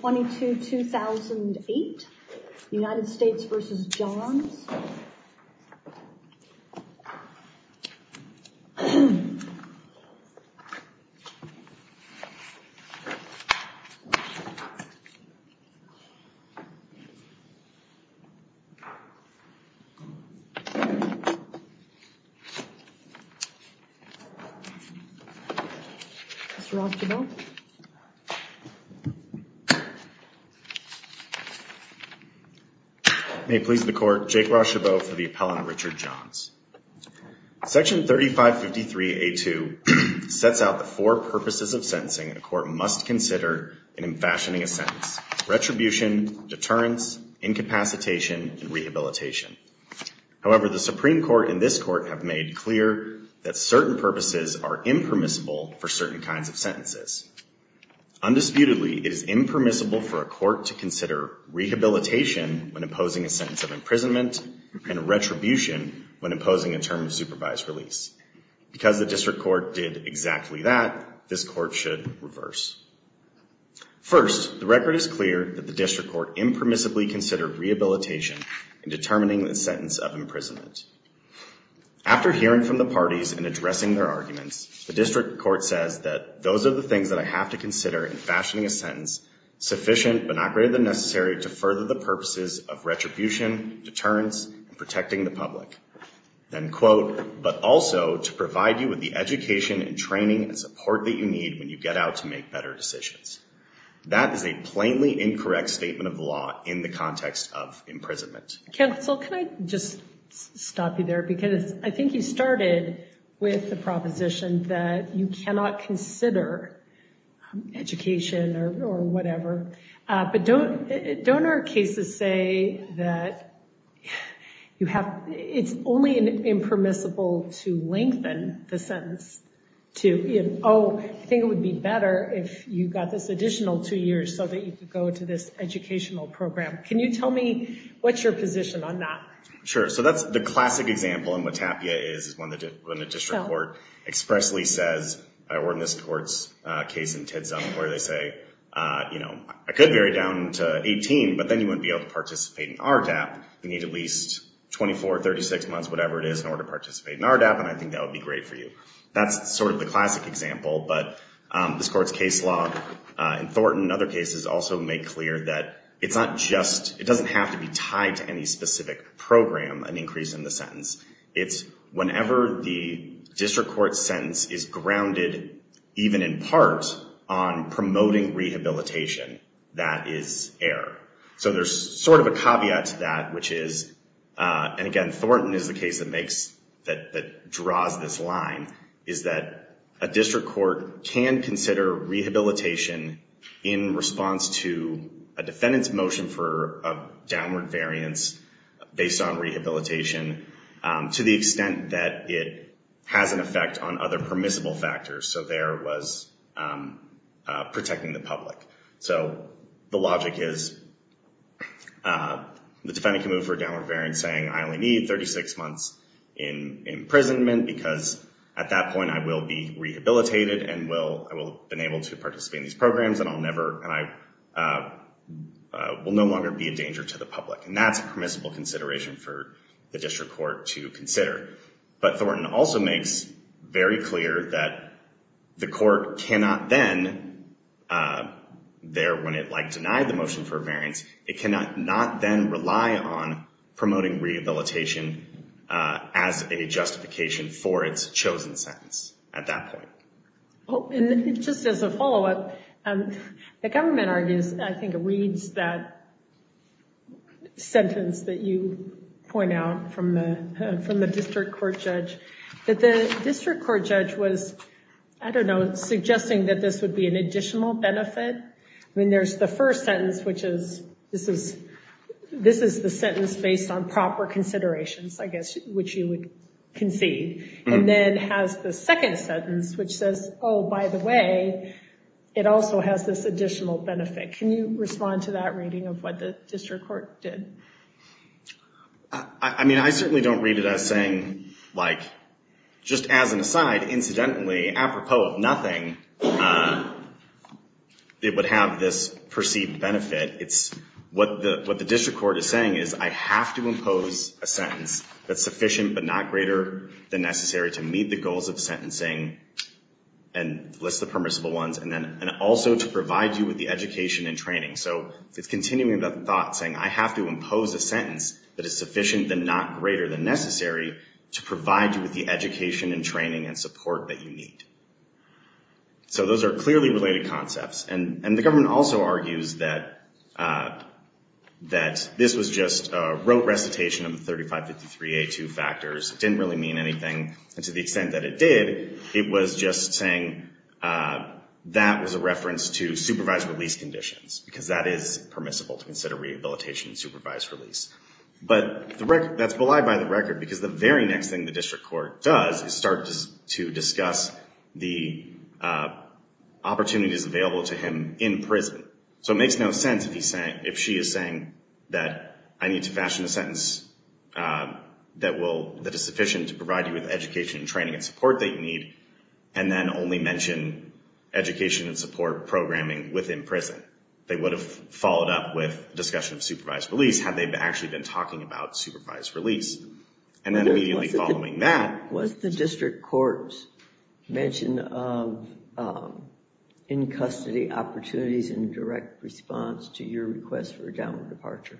22-2008, United States v. Johns. Or Richard Johns. Section 3553A2 sets out the four purposes of sentencing a court must consider in fashioning a sentence. Retribution, deterrence, incapacitation, and rehabilitation. However, the Supreme Court and this court have made clear that certain purposes are impermissible for certain kinds of sentences. Undisputedly, it is impermissible for a court to consider rehabilitation when imposing a sentence of imprisonment and retribution when imposing a term of supervised release. Because the district court did exactly that, this court should reverse. First, the record is clear that the district court impermissibly considered rehabilitation in determining the sentence of imprisonment. After hearing from the parties and addressing their arguments, the district court says that those are the things that the district court should consider. Second, the district court should not consider retribution, deterrence, and protecting the public. Then quote, but also to provide you with the education and training and support that you need when you get out to make better decisions. That is a plainly incorrect statement of law in the context of imprisonment. Counsel, can I just stop you there? Because I think you started with the proposition that you cannot consider education or whatever. But don't our cases say that it's only impermissible to lengthen the sentence to, oh, I think it would be better if you got this additional two years so that you could go to this educational program. Can you tell me what's your position on that? Sure. So that's the classic example, and what TAPIA is, is when the district court expressly says, or in this court's case in Tidsum, where they say, you know, I could vary down to 18, but then you wouldn't be able to participate in RDAP. You need at least 24, 36 months, whatever it is, in order to participate in RDAP, and I think that would be great for you. That's sort of the classic example, but this court's case law in Thornton and other cases also make clear that it's not just, it doesn't have to be tied to any specific program, an increase in the sentence. It's whenever the district court sentence is grounded even in part on promoting rehabilitation that is error. So there's sort of a caveat to that which is, and again, Thornton is the case that draws this line, is that a district court can consider rehabilitation in response to a defendant's motion for a downward variance based on rehabilitation to the extent that it has an effect on other permissible factors. So there was protecting the public. So the logic is the defendant can move for a downward variance saying I only need 36 months in imprisonment because at that point I will be rehabilitated and I will have been able to participate in these programs and I will no longer be a danger to the public. And that's a permissible consideration for the district court to consider. But Thornton also makes very clear that the court cannot then, there when it denied the motion for a variance, it cannot not then rely on promoting rehabilitation as a justification for its chosen sentence at that point. Just as a follow-up, the government argues, I think it reads that sentence that you point out from the district court judge that the district court judge was, I don't know, suggesting that this would be an additional benefit. I mean there's the first sentence which is, this is the sentence based on proper considerations, I guess, which you would concede. And then it has the second sentence which says, oh by the way it also has this additional benefit. Can you respond to that reading of what the district court did? I mean I certainly don't read it as saying, like, just as an aside, incidentally, apropos of nothing it would have this perceived benefit. It's, what the district court is saying is I have to impose a sentence that's sufficient but not greater than necessary to meet the goals of sentencing and list the permissible ones and also to provide you with the education and training. So it's continuing that thought, saying I have to impose a sentence that is sufficient but not greater than necessary to provide you with the education and training and support that you need. So those are clearly related concepts. And the government also argues that this was just a rote recitation of the sentence. It didn't really mean anything. And to the extent that it did, it was just saying that was a reference to supervised release conditions because that is permissible to consider rehabilitation and supervised release. But that's belied by the record because the very next thing the district court does is start to discuss the opportunities available to him in prison. So it makes no sense if she is saying that I need to fashion a sentence that is sufficient to provide you with education and training and support that you need and then only mention education and support programming within prison. They would have followed up with discussion of supervised release had they actually been talking about supervised release. And then immediately following that... Was the district court's mention of in-custody opportunities in direct response to your request for a downward departure?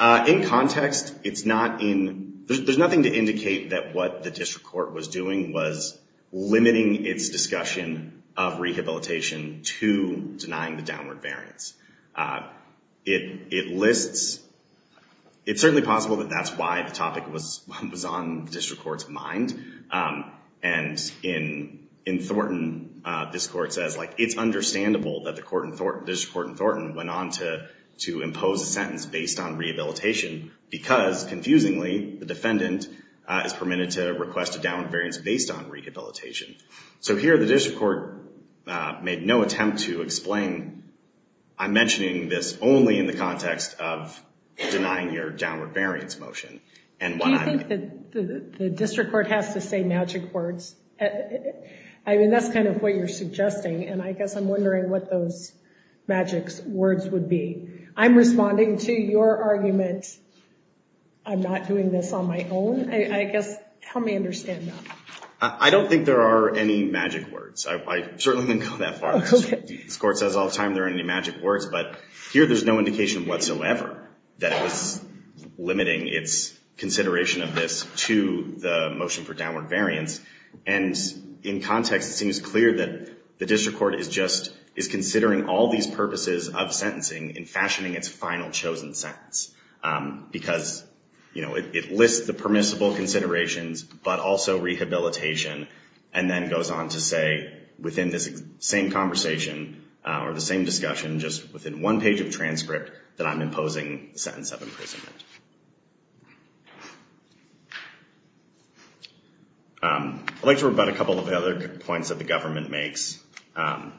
In context, it's not in... There's nothing to indicate that what the district court was doing was limiting its discussion of rehabilitation to denying the downward variance. It lists... It's certainly possible that that's why the topic was on the district court's mind. And in Thornton, this court says it's understandable that the court in Thornton went on to impose a sentence based on rehabilitation because confusingly, the defendant is permitted to request a downward variance based on rehabilitation. So here the district court made no attempt to explain... I'm mentioning this only in the context of denying your downward variance motion. Do you think that the district court has to say magic words? I mean, that's kind of what you're suggesting and I guess I'm wondering what those magic words would be. I'm responding to your argument. I'm not doing this on my own. I guess, help me understand that. I don't think there are any magic words. I certainly didn't go that far. This court says all the time there aren't any magic words, but here there's no indication whatsoever that it was limiting its consideration of this to the motion for downward variance. And in context, it seems clear that the district court is considering all these purposes of sentencing in fashioning its final chosen sentence because it lists the permissible considerations, but also rehabilitation and then goes on to say within this same conversation or the same discussion, just within one page of transcript, that I'm imposing the sentence of imprisonment. I'd like to talk about a couple of other points that the government makes. The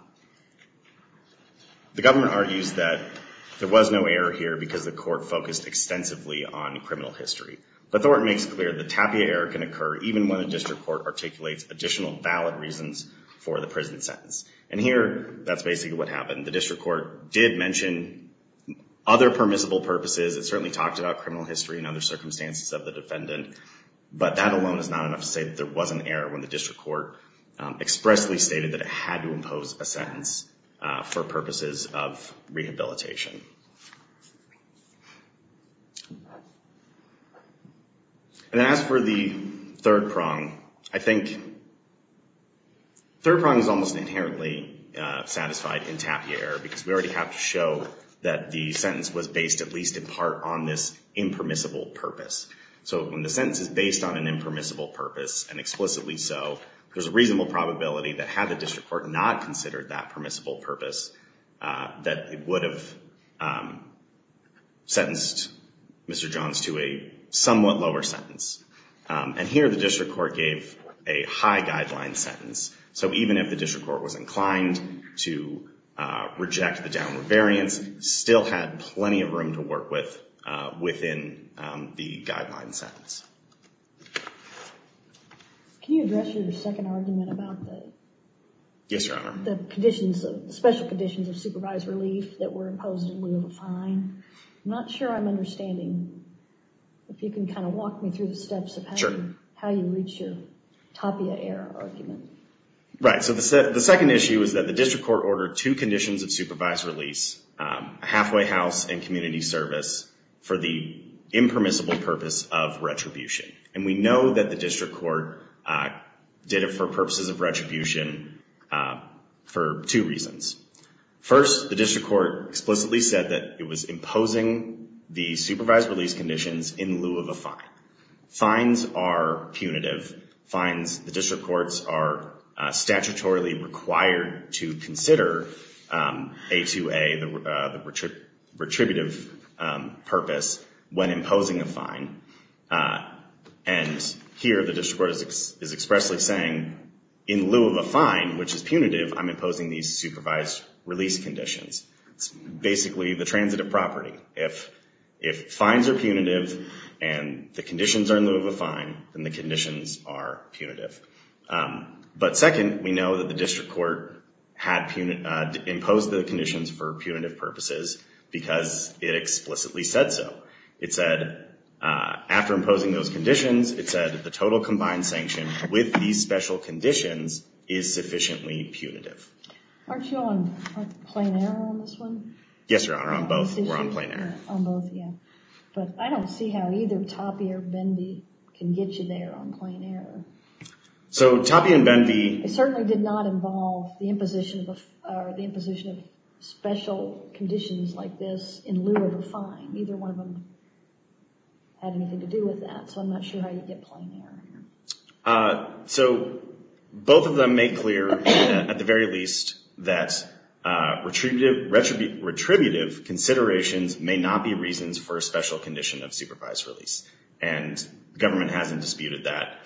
government argues that there was no error here because the court focused extensively on criminal history. But Thornton makes clear that TAPIA error can occur even when the district court articulates additional valid reasons for the prison sentence. And here, that's basically what happened. The district court did mention other permissible purposes. It certainly talked about criminal history and other circumstances of the defendant, but that alone is not enough to say that there was an error when the district court expressly stated that it had to impose a sentence for purposes of rehabilitation. And as for the third prong, I think third prong is almost inherently satisfied in TAPIA error because we already have to show that the sentence was based at least in part on this impermissible purpose. So when the sentence is based on an impermissible purpose, and explicitly so, there's a reasonable probability that had the district court not considered that permissible purpose that it would have sentenced Mr. Johns to a somewhat lower sentence. And here, the district court gave a high guideline sentence. So even if the district court was inclined to reject the downward variance, still had plenty of room to work with within the guideline sentence. Can you address your second argument about the special conditions of supervised relief that were imposed in lieu of a fine? I'm not sure I'm understanding. If you can kind of walk me through the steps of how you reach your TAPIA error argument. Right, so the second issue is that the district court ordered two conditions of supervised release, a halfway house and community service, for the impermissible purpose of retribution. And we know that the district court did it for purposes of retribution for two reasons. First, the district court explicitly said that it was imposing the supervised release conditions in lieu of a fine. Fines are punitive. Fines, the district courts are statutorily required to consider A2A, the retributive purpose when imposing a fine. And here, the district court is expressly saying in lieu of a fine, which is punitive, I'm imposing these supervised release conditions. It's basically the transitive property. If fines are punitive and the conditions are in lieu of a fine, then the conditions are punitive. But second, we know that the district court had imposed the conditions for punitive purposes because it explicitly said so. It said after imposing those conditions, it said the total combined sanction with these special conditions is sufficiently punitive. Aren't you on plain error on this one? Yes, Your Honor, on both. We're on plain error. On both, yeah. But I don't see how either TAPIA or Benvey can get you there on plain error. So, TAPIA and Benvey... It certainly did not involve the imposition of special conditions like this in lieu of a fine. Neither one of them had anything to do with that, so I'm not sure how you'd get plain error here. So, both of them make clear, at the very least, that retributive considerations may not be reasons for a special condition of supervised release. And government hasn't disputed that.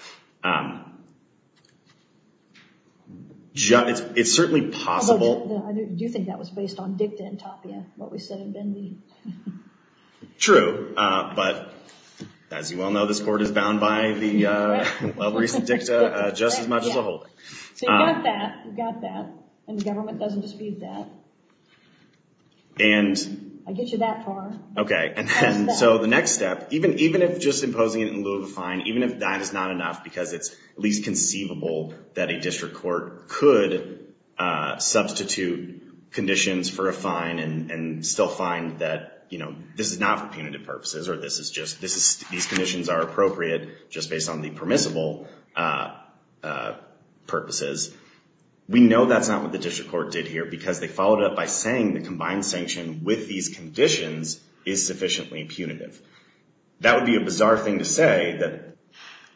It's certainly possible... I do think that was based on DICTA and TAPIA, what we said in Benvey. True, but as you well know, this Court is bound by the recent DICTA just as much as a holding. So, you've got that, and the government doesn't dispute that. I get you that far. Okay, so the next step, even if just imposing it in lieu of a fine, even if that is not enough because it's at least conceivable that a district court could substitute conditions for a fine and still find that this is not for punitive purposes, or these conditions are appropriate just based on the permissible purposes. We know that's not what the district court did here because they followed up by saying the combined sanction with these conditions is sufficiently punitive. That would be a bizarre thing to say, that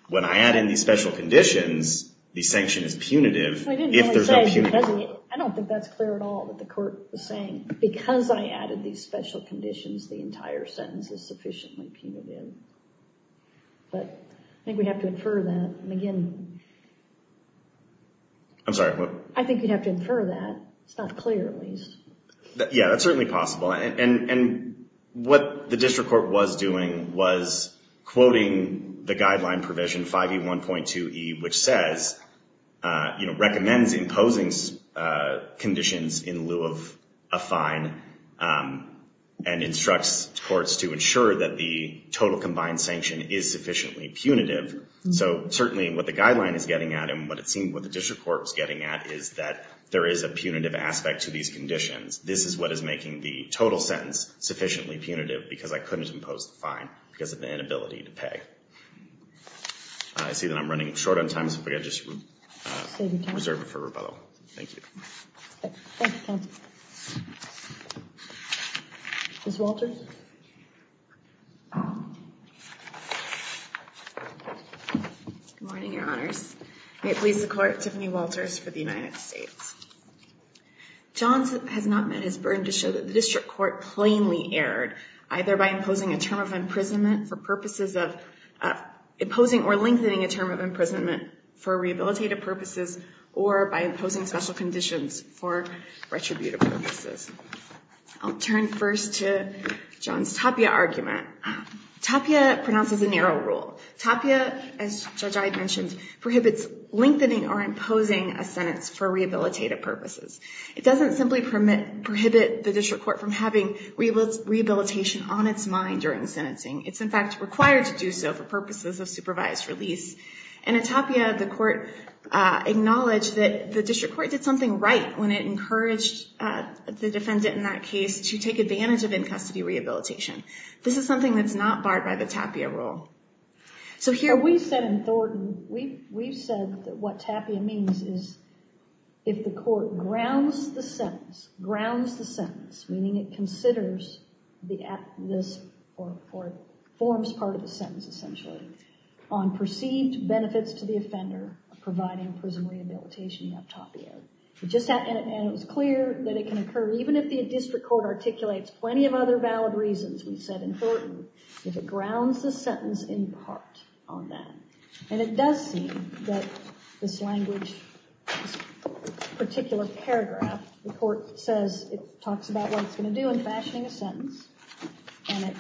when I add in these special conditions, the sanction is punitive if there's no punitive... I don't think that's clear at all, what the Court is saying. Because I added these special conditions, the entire sentence is sufficiently punitive. I think we'd have to infer that. I'm sorry? I think you'd have to infer that. It's not clear, at least. Yeah, that's certainly possible. And what the district court was doing was quoting the guideline provision, 5E1.2E, which says recommends imposing conditions in lieu of a fine and instructs courts to ensure that the total combined sanction is sufficiently punitive. So certainly what the guideline is getting at and what it seemed what the district court is getting at is that there is a punitive aspect to these conditions. This is what is making the total sentence sufficiently punitive because I couldn't impose the fine because of the inability to pay. I see that I'm running short on time, so if we could just reserve it for rebuttal. Thank you. Ms. Walter? Good morning, Your Honors. May it please the Court, Tiffany Walters for the United States. Johns has not met his burden to show that the district court plainly erred, either by imposing or lengthening a term of imprisonment for rehabilitative purposes or by imposing special conditions for retributive purposes. I'll turn first to Johns' Tapia argument. Tapia pronounces a narrow rule. Tapia, as Judge Ide mentioned, prohibits lengthening or imposing a sentence for rehabilitative purposes. It doesn't simply prohibit the district court from having rehabilitation on its mind during sentencing. It's in fact required to do so for purposes of supervised release. And in Tapia, the court acknowledged that the district court did something right when it encouraged the defendant in that case to take advantage of in-custody rehabilitation. This is something that's not barred by the district court. And we've said in Thornton, we've said that what Tapia means is if the court grounds the sentence, grounds the sentence, meaning it considers this or forms part of the sentence, essentially, on perceived benefits to the offender of providing prison rehabilitation, you have Tapia. And it was clear that it can occur, even if the district court articulates plenty of other valid reasons, we've said in Thornton, if it can. And it does seem that this language particular paragraph, the court says, it talks about what it's going to do in fashioning a sentence, and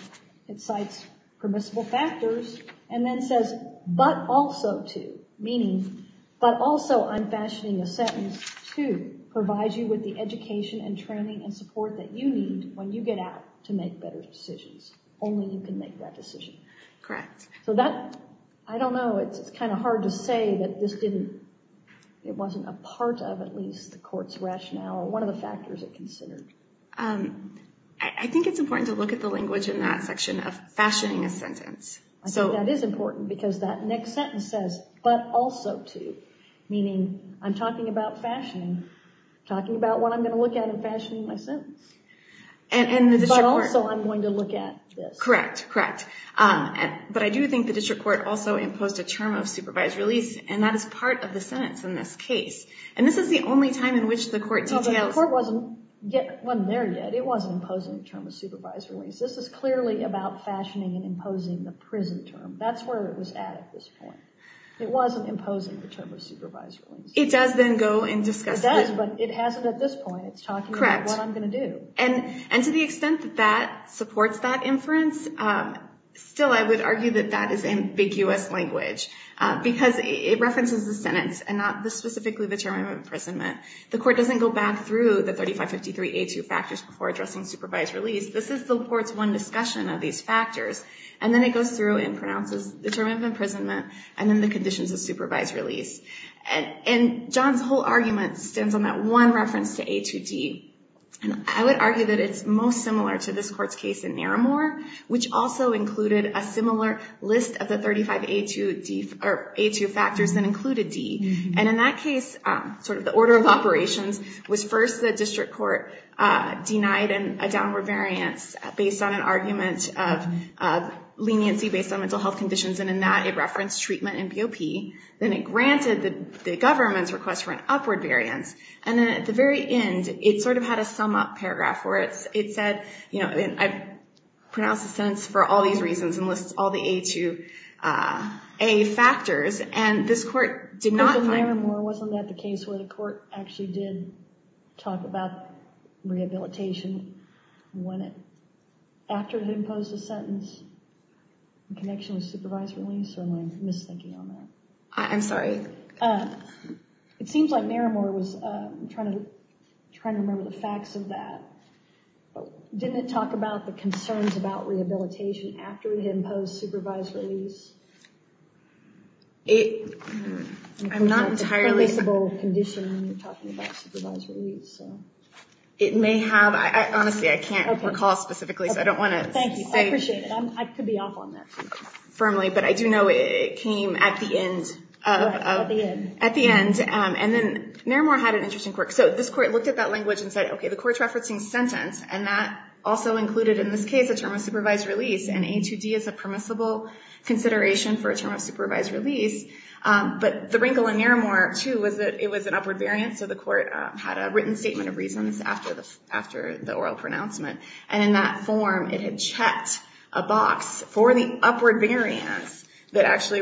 it cites permissible factors, and then says, but also to, meaning, but also I'm fashioning a sentence to provide you with the education and training and support that you need when you get out to make better decisions. Only you can make that decision. Correct. So that, I don't know, it's kind of hard to say that this didn't, it wasn't a part of, at least, the court's rationale or one of the factors it considered. I think it's important to look at the language in that section of fashioning a sentence. I think that is important, because that next sentence says, but also to, meaning, I'm talking about fashioning, talking about what I'm going to look at in fashioning my sentence. But also I'm going to look at this. Correct, correct. But I do think the district court also imposed a term of supervised release, and that is part of the sentence in this case. And this is the only time in which the court details... Well, the court wasn't there yet. It wasn't imposing a term of supervised release. This is clearly about fashioning and imposing the prison term. That's where it was at at this point. It wasn't imposing the term of supervised release. It does then go and discuss it. It does, but it hasn't at this point. It's talking about what I'm going to do. Correct. And to the extent that that supports that inference, still I would argue that that is ambiguous language, because it references the sentence and not specifically the term of imprisonment. The court doesn't go back through the 3553A2 factors before addressing supervised release. This is the court's one discussion of these factors. And then it goes through and pronounces the term of imprisonment and then the conditions of supervised release. And John's whole argument stands on that one reference to A2D. And I would argue that it's most similar to this court's case in Naramore, which also included a similar list of the 35A2 factors that included D. And in that case, sort of the order of operations was first the district court denied a downward variance based on an argument of leniency based on mental health conditions. And in that, it referenced treatment and BOP. Then it granted the government's request for an upward variance. And then at the very end, it sort of had a sum-up paragraph where it said, you know, I've pronounced the sentence for all these reasons and lists all the A2A factors. And this court did not find... But in Naramore, wasn't that the case where the court actually did talk about rehabilitation after it imposed a sentence in connection with supervised release? Or am I misthinking on that? I'm sorry. It seems like Naramore was trying to remember the facts of that. Didn't it talk about the concerns about rehabilitation after it imposed supervised release? I'm not entirely... It's a permissible condition when you're talking about supervised release. It may have. Honestly, I can't recall specifically, so I don't want to say... I could be off on that too firmly, but I do know it came at the end. And then Naramore had an interesting quirk. So this court looked at that language and said, okay, the court's referencing sentence, and that also included, in this case, a term of supervised release. And A2D is a permissible consideration for a term of supervised release. But the wrinkle in Naramore, too, was that it was an upward variance, so the court had a written statement of reasons after the oral pronouncement. And in that form, it had checked a box for the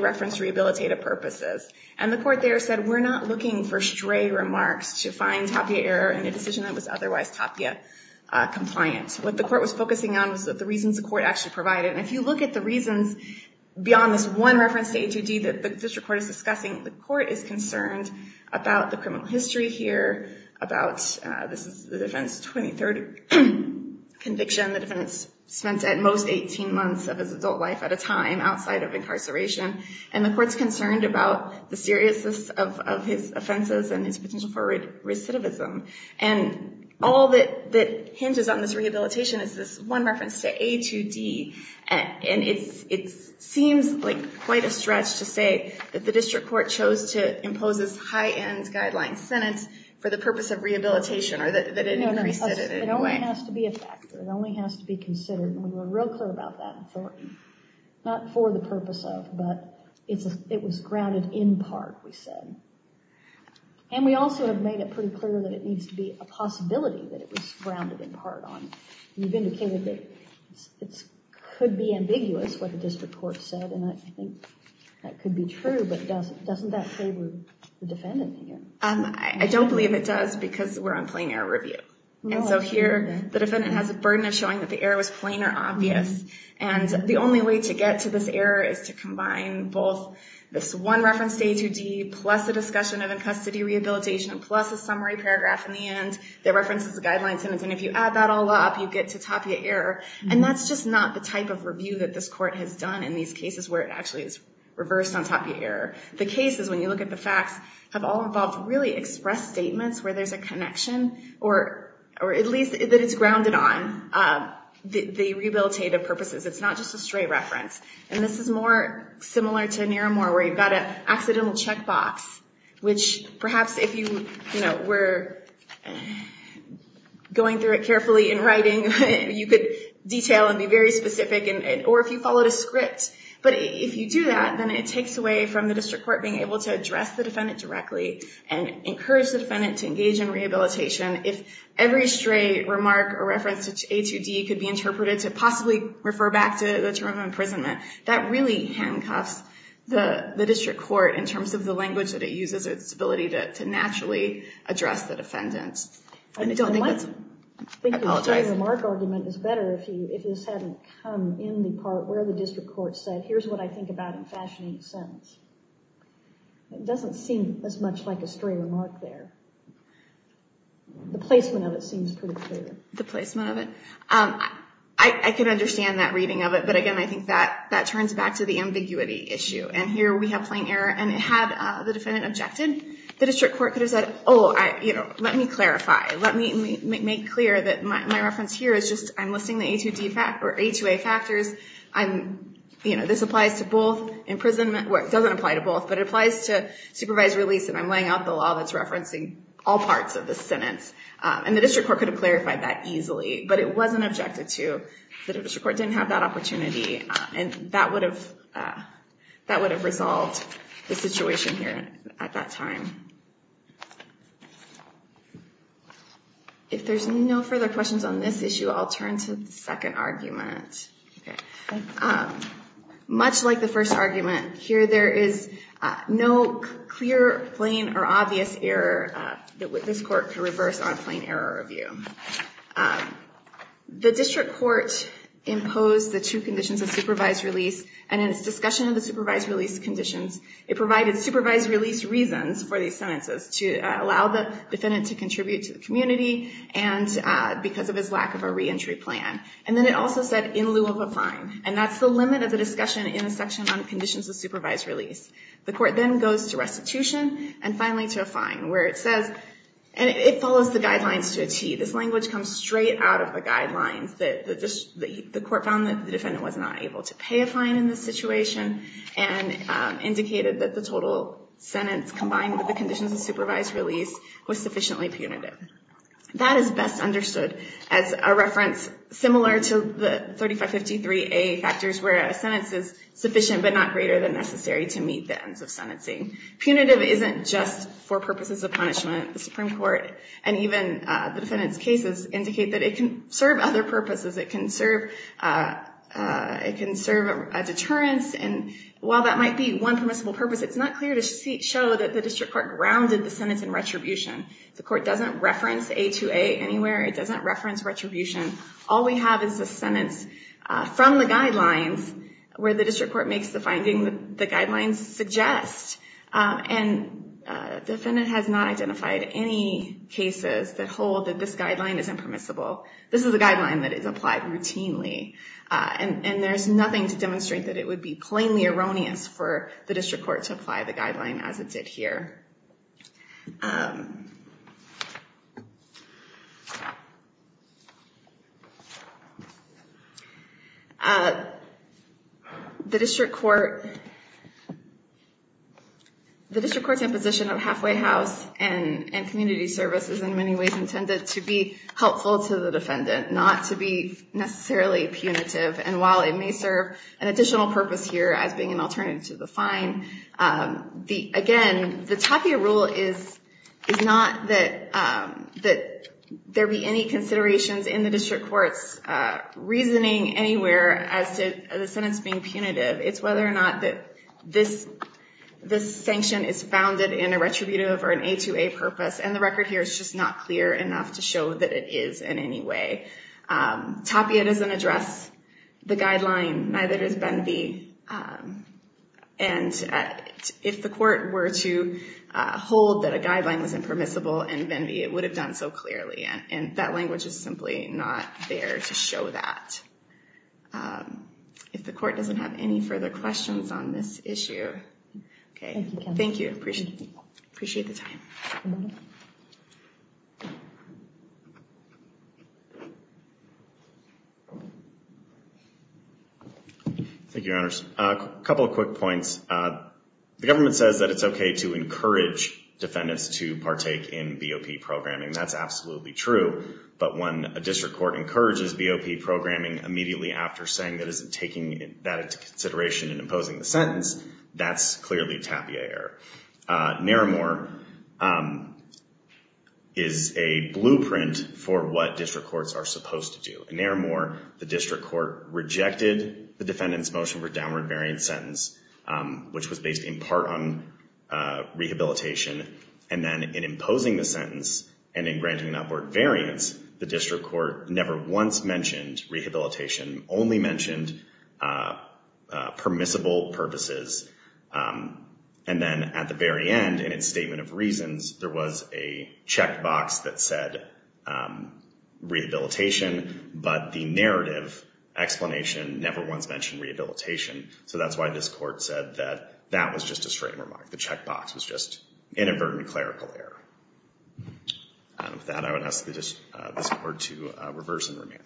reference rehabilitative purposes. And the court there said, we're not looking for stray remarks to find Tapia error in a decision that was otherwise Tapia compliant. What the court was focusing on was the reasons the court actually provided. And if you look at the reasons beyond this one reference to A2D that the district court is discussing, the court is concerned about the criminal history here, about... This is the defense's 23rd conviction, the defense spent at most 18 months of his adult life at a time outside of incarceration, and the court's concerned about the seriousness of his offenses and his potential for recidivism. And all that hinges on this rehabilitation is this one reference to A2D, and it seems like quite a stretch to say that the district court chose to impose this high-end guideline sentence for the purpose of rehabilitation, or that it increased it in any way. It only has to be a factor. It only has to be considered. And we were real clear about that authority. Not for the purpose of, but it was grounded in part, we said. And we also have made it pretty clear that it needs to be a possibility that it was grounded in part on. You've indicated that it could be ambiguous what the district court said, and I think that could be true, but doesn't that favor the defendant here? I don't believe it does because we're on plain error review. And so here, the defendant has a burden of showing that the error was plain or obvious. And the only way to get to this error is to combine both this one reference to A2D, plus a discussion of in-custody rehabilitation, plus a summary paragraph in the end that references the guideline sentence. And if you add that all up, you get to tapia error. And that's just not the type of review that this court has done in these cases where it actually is reversed on tapia error. The cases, when you look at the facts, have all involved really express statements where there's a connection, or at least that it's grounded on the rehabilitative purposes. It's not just a stray reference. And this is more similar to Naramore, where you've got an accidental checkbox, which perhaps if you were going through it carefully in writing, you could detail and be very specific, or if you followed a script. But if you do that, then it takes away from the district court being able to address the defendant directly and encourage the defendant to engage in rehabilitation if every stray remark or reference to A2D could be interpreted to possibly refer back to the term of imprisonment. That really handcuffs the district court in terms of the language that it uses as its ability to naturally address the defendant. I don't think the stray remark argument is better if this hadn't come in the part where the district court said, here's what I think about in fashioning the sentence. It doesn't seem as much like a stray remark there. The placement of it seems pretty clear. The placement of it? I can understand that reading of it, but again I think that turns back to the ambiguity issue. And here we have plain error and had the defendant objected, the district court could have said, oh, let me clarify. Let me make clear that my reference here is just I'm listing the A2A factors. This applies to both imprisonment, well it doesn't apply to both, but it applies to referencing all parts of the sentence. And the district court could have clarified that easily, but it wasn't objected to. The district court didn't have that opportunity and that would have resolved the situation here at that time. If there's no further questions on this issue, I'll turn to the second argument. Much like the first argument, here there is no clear, plain, or obvious error that this court could reverse on plain error review. The district court imposed the two conditions of supervised release and in its discussion of the supervised release conditions, it provided supervised release reasons for these sentences to allow the defendant to contribute to the community and because of his lack of a reentry plan. And then it also said in lieu of a fine. And that's the limit of the discussion in the section on conditions of supervised release. The court then goes to restitution and finally to a fine where it says, and it follows the guidelines to a T. This language comes straight out of the guidelines. The court found that the defendant was not able to pay a fine in this situation and indicated that the total sentence combined with the conditions of supervised release was sufficiently punitive. That is best understood as a reference similar to the 3553A factors where a sentence is necessary to meet the ends of sentencing. Punitive isn't just for purposes of punishment. The Supreme Court and even the defendant's cases indicate that it can serve other purposes. It can serve a deterrence and while that might be one permissible purpose it's not clear to show that the district court grounded the sentence in retribution. The court doesn't reference A2A anywhere. It doesn't reference retribution. All we have is a sentence from the guidelines where the district court makes the finding that the guidelines suggest and the defendant has not identified any cases that hold that this guideline is impermissible. This is a guideline that is applied routinely and there's nothing to demonstrate that it would be plainly erroneous for the district court to apply the guideline as it did here. The district court the district court's imposition of halfway house and community service is in many ways intended to be helpful to the defendant, not to be necessarily punitive and while it may serve an additional purpose here as being an alternative to the fine, again the tapia rule is not that there be any considerations in the district court's reasoning anywhere as to the sentence being punitive. It's whether or not this sanction is founded in a retributive or an A2A purpose and the record here is just not clear enough to show that it is in any way. Tapia doesn't address the guideline neither does Benvey and if the court were to hold that a guideline was impermissible in Benvey it would have done so clearly and that language is simply not there to show that. If the court doesn't have any further questions on this issue thank you, I appreciate the time. Thank you, your honors. A couple of quick points the government says that it's okay to encourage defendants to partake in and encourages BOP programming immediately after saying that it isn't taking that into consideration in imposing the sentence, that's clearly tapia error. Naramore is a blueprint for what district courts are supposed to do. In Naramore the district court rejected the defendant's motion for downward variance sentence which was based in part on rehabilitation and then in imposing the sentence and in granting an upward variance the district court never once mentioned rehabilitation only mentioned permissible purposes and then at the very end in its statement of reasons there was a checkbox that said rehabilitation but the narrative explanation never once mentioned rehabilitation so that's why this court said that that was just a straight remark, the checkbox was just inadvertent clerical error. With that I would ask this court to reverse and remand. Thank you.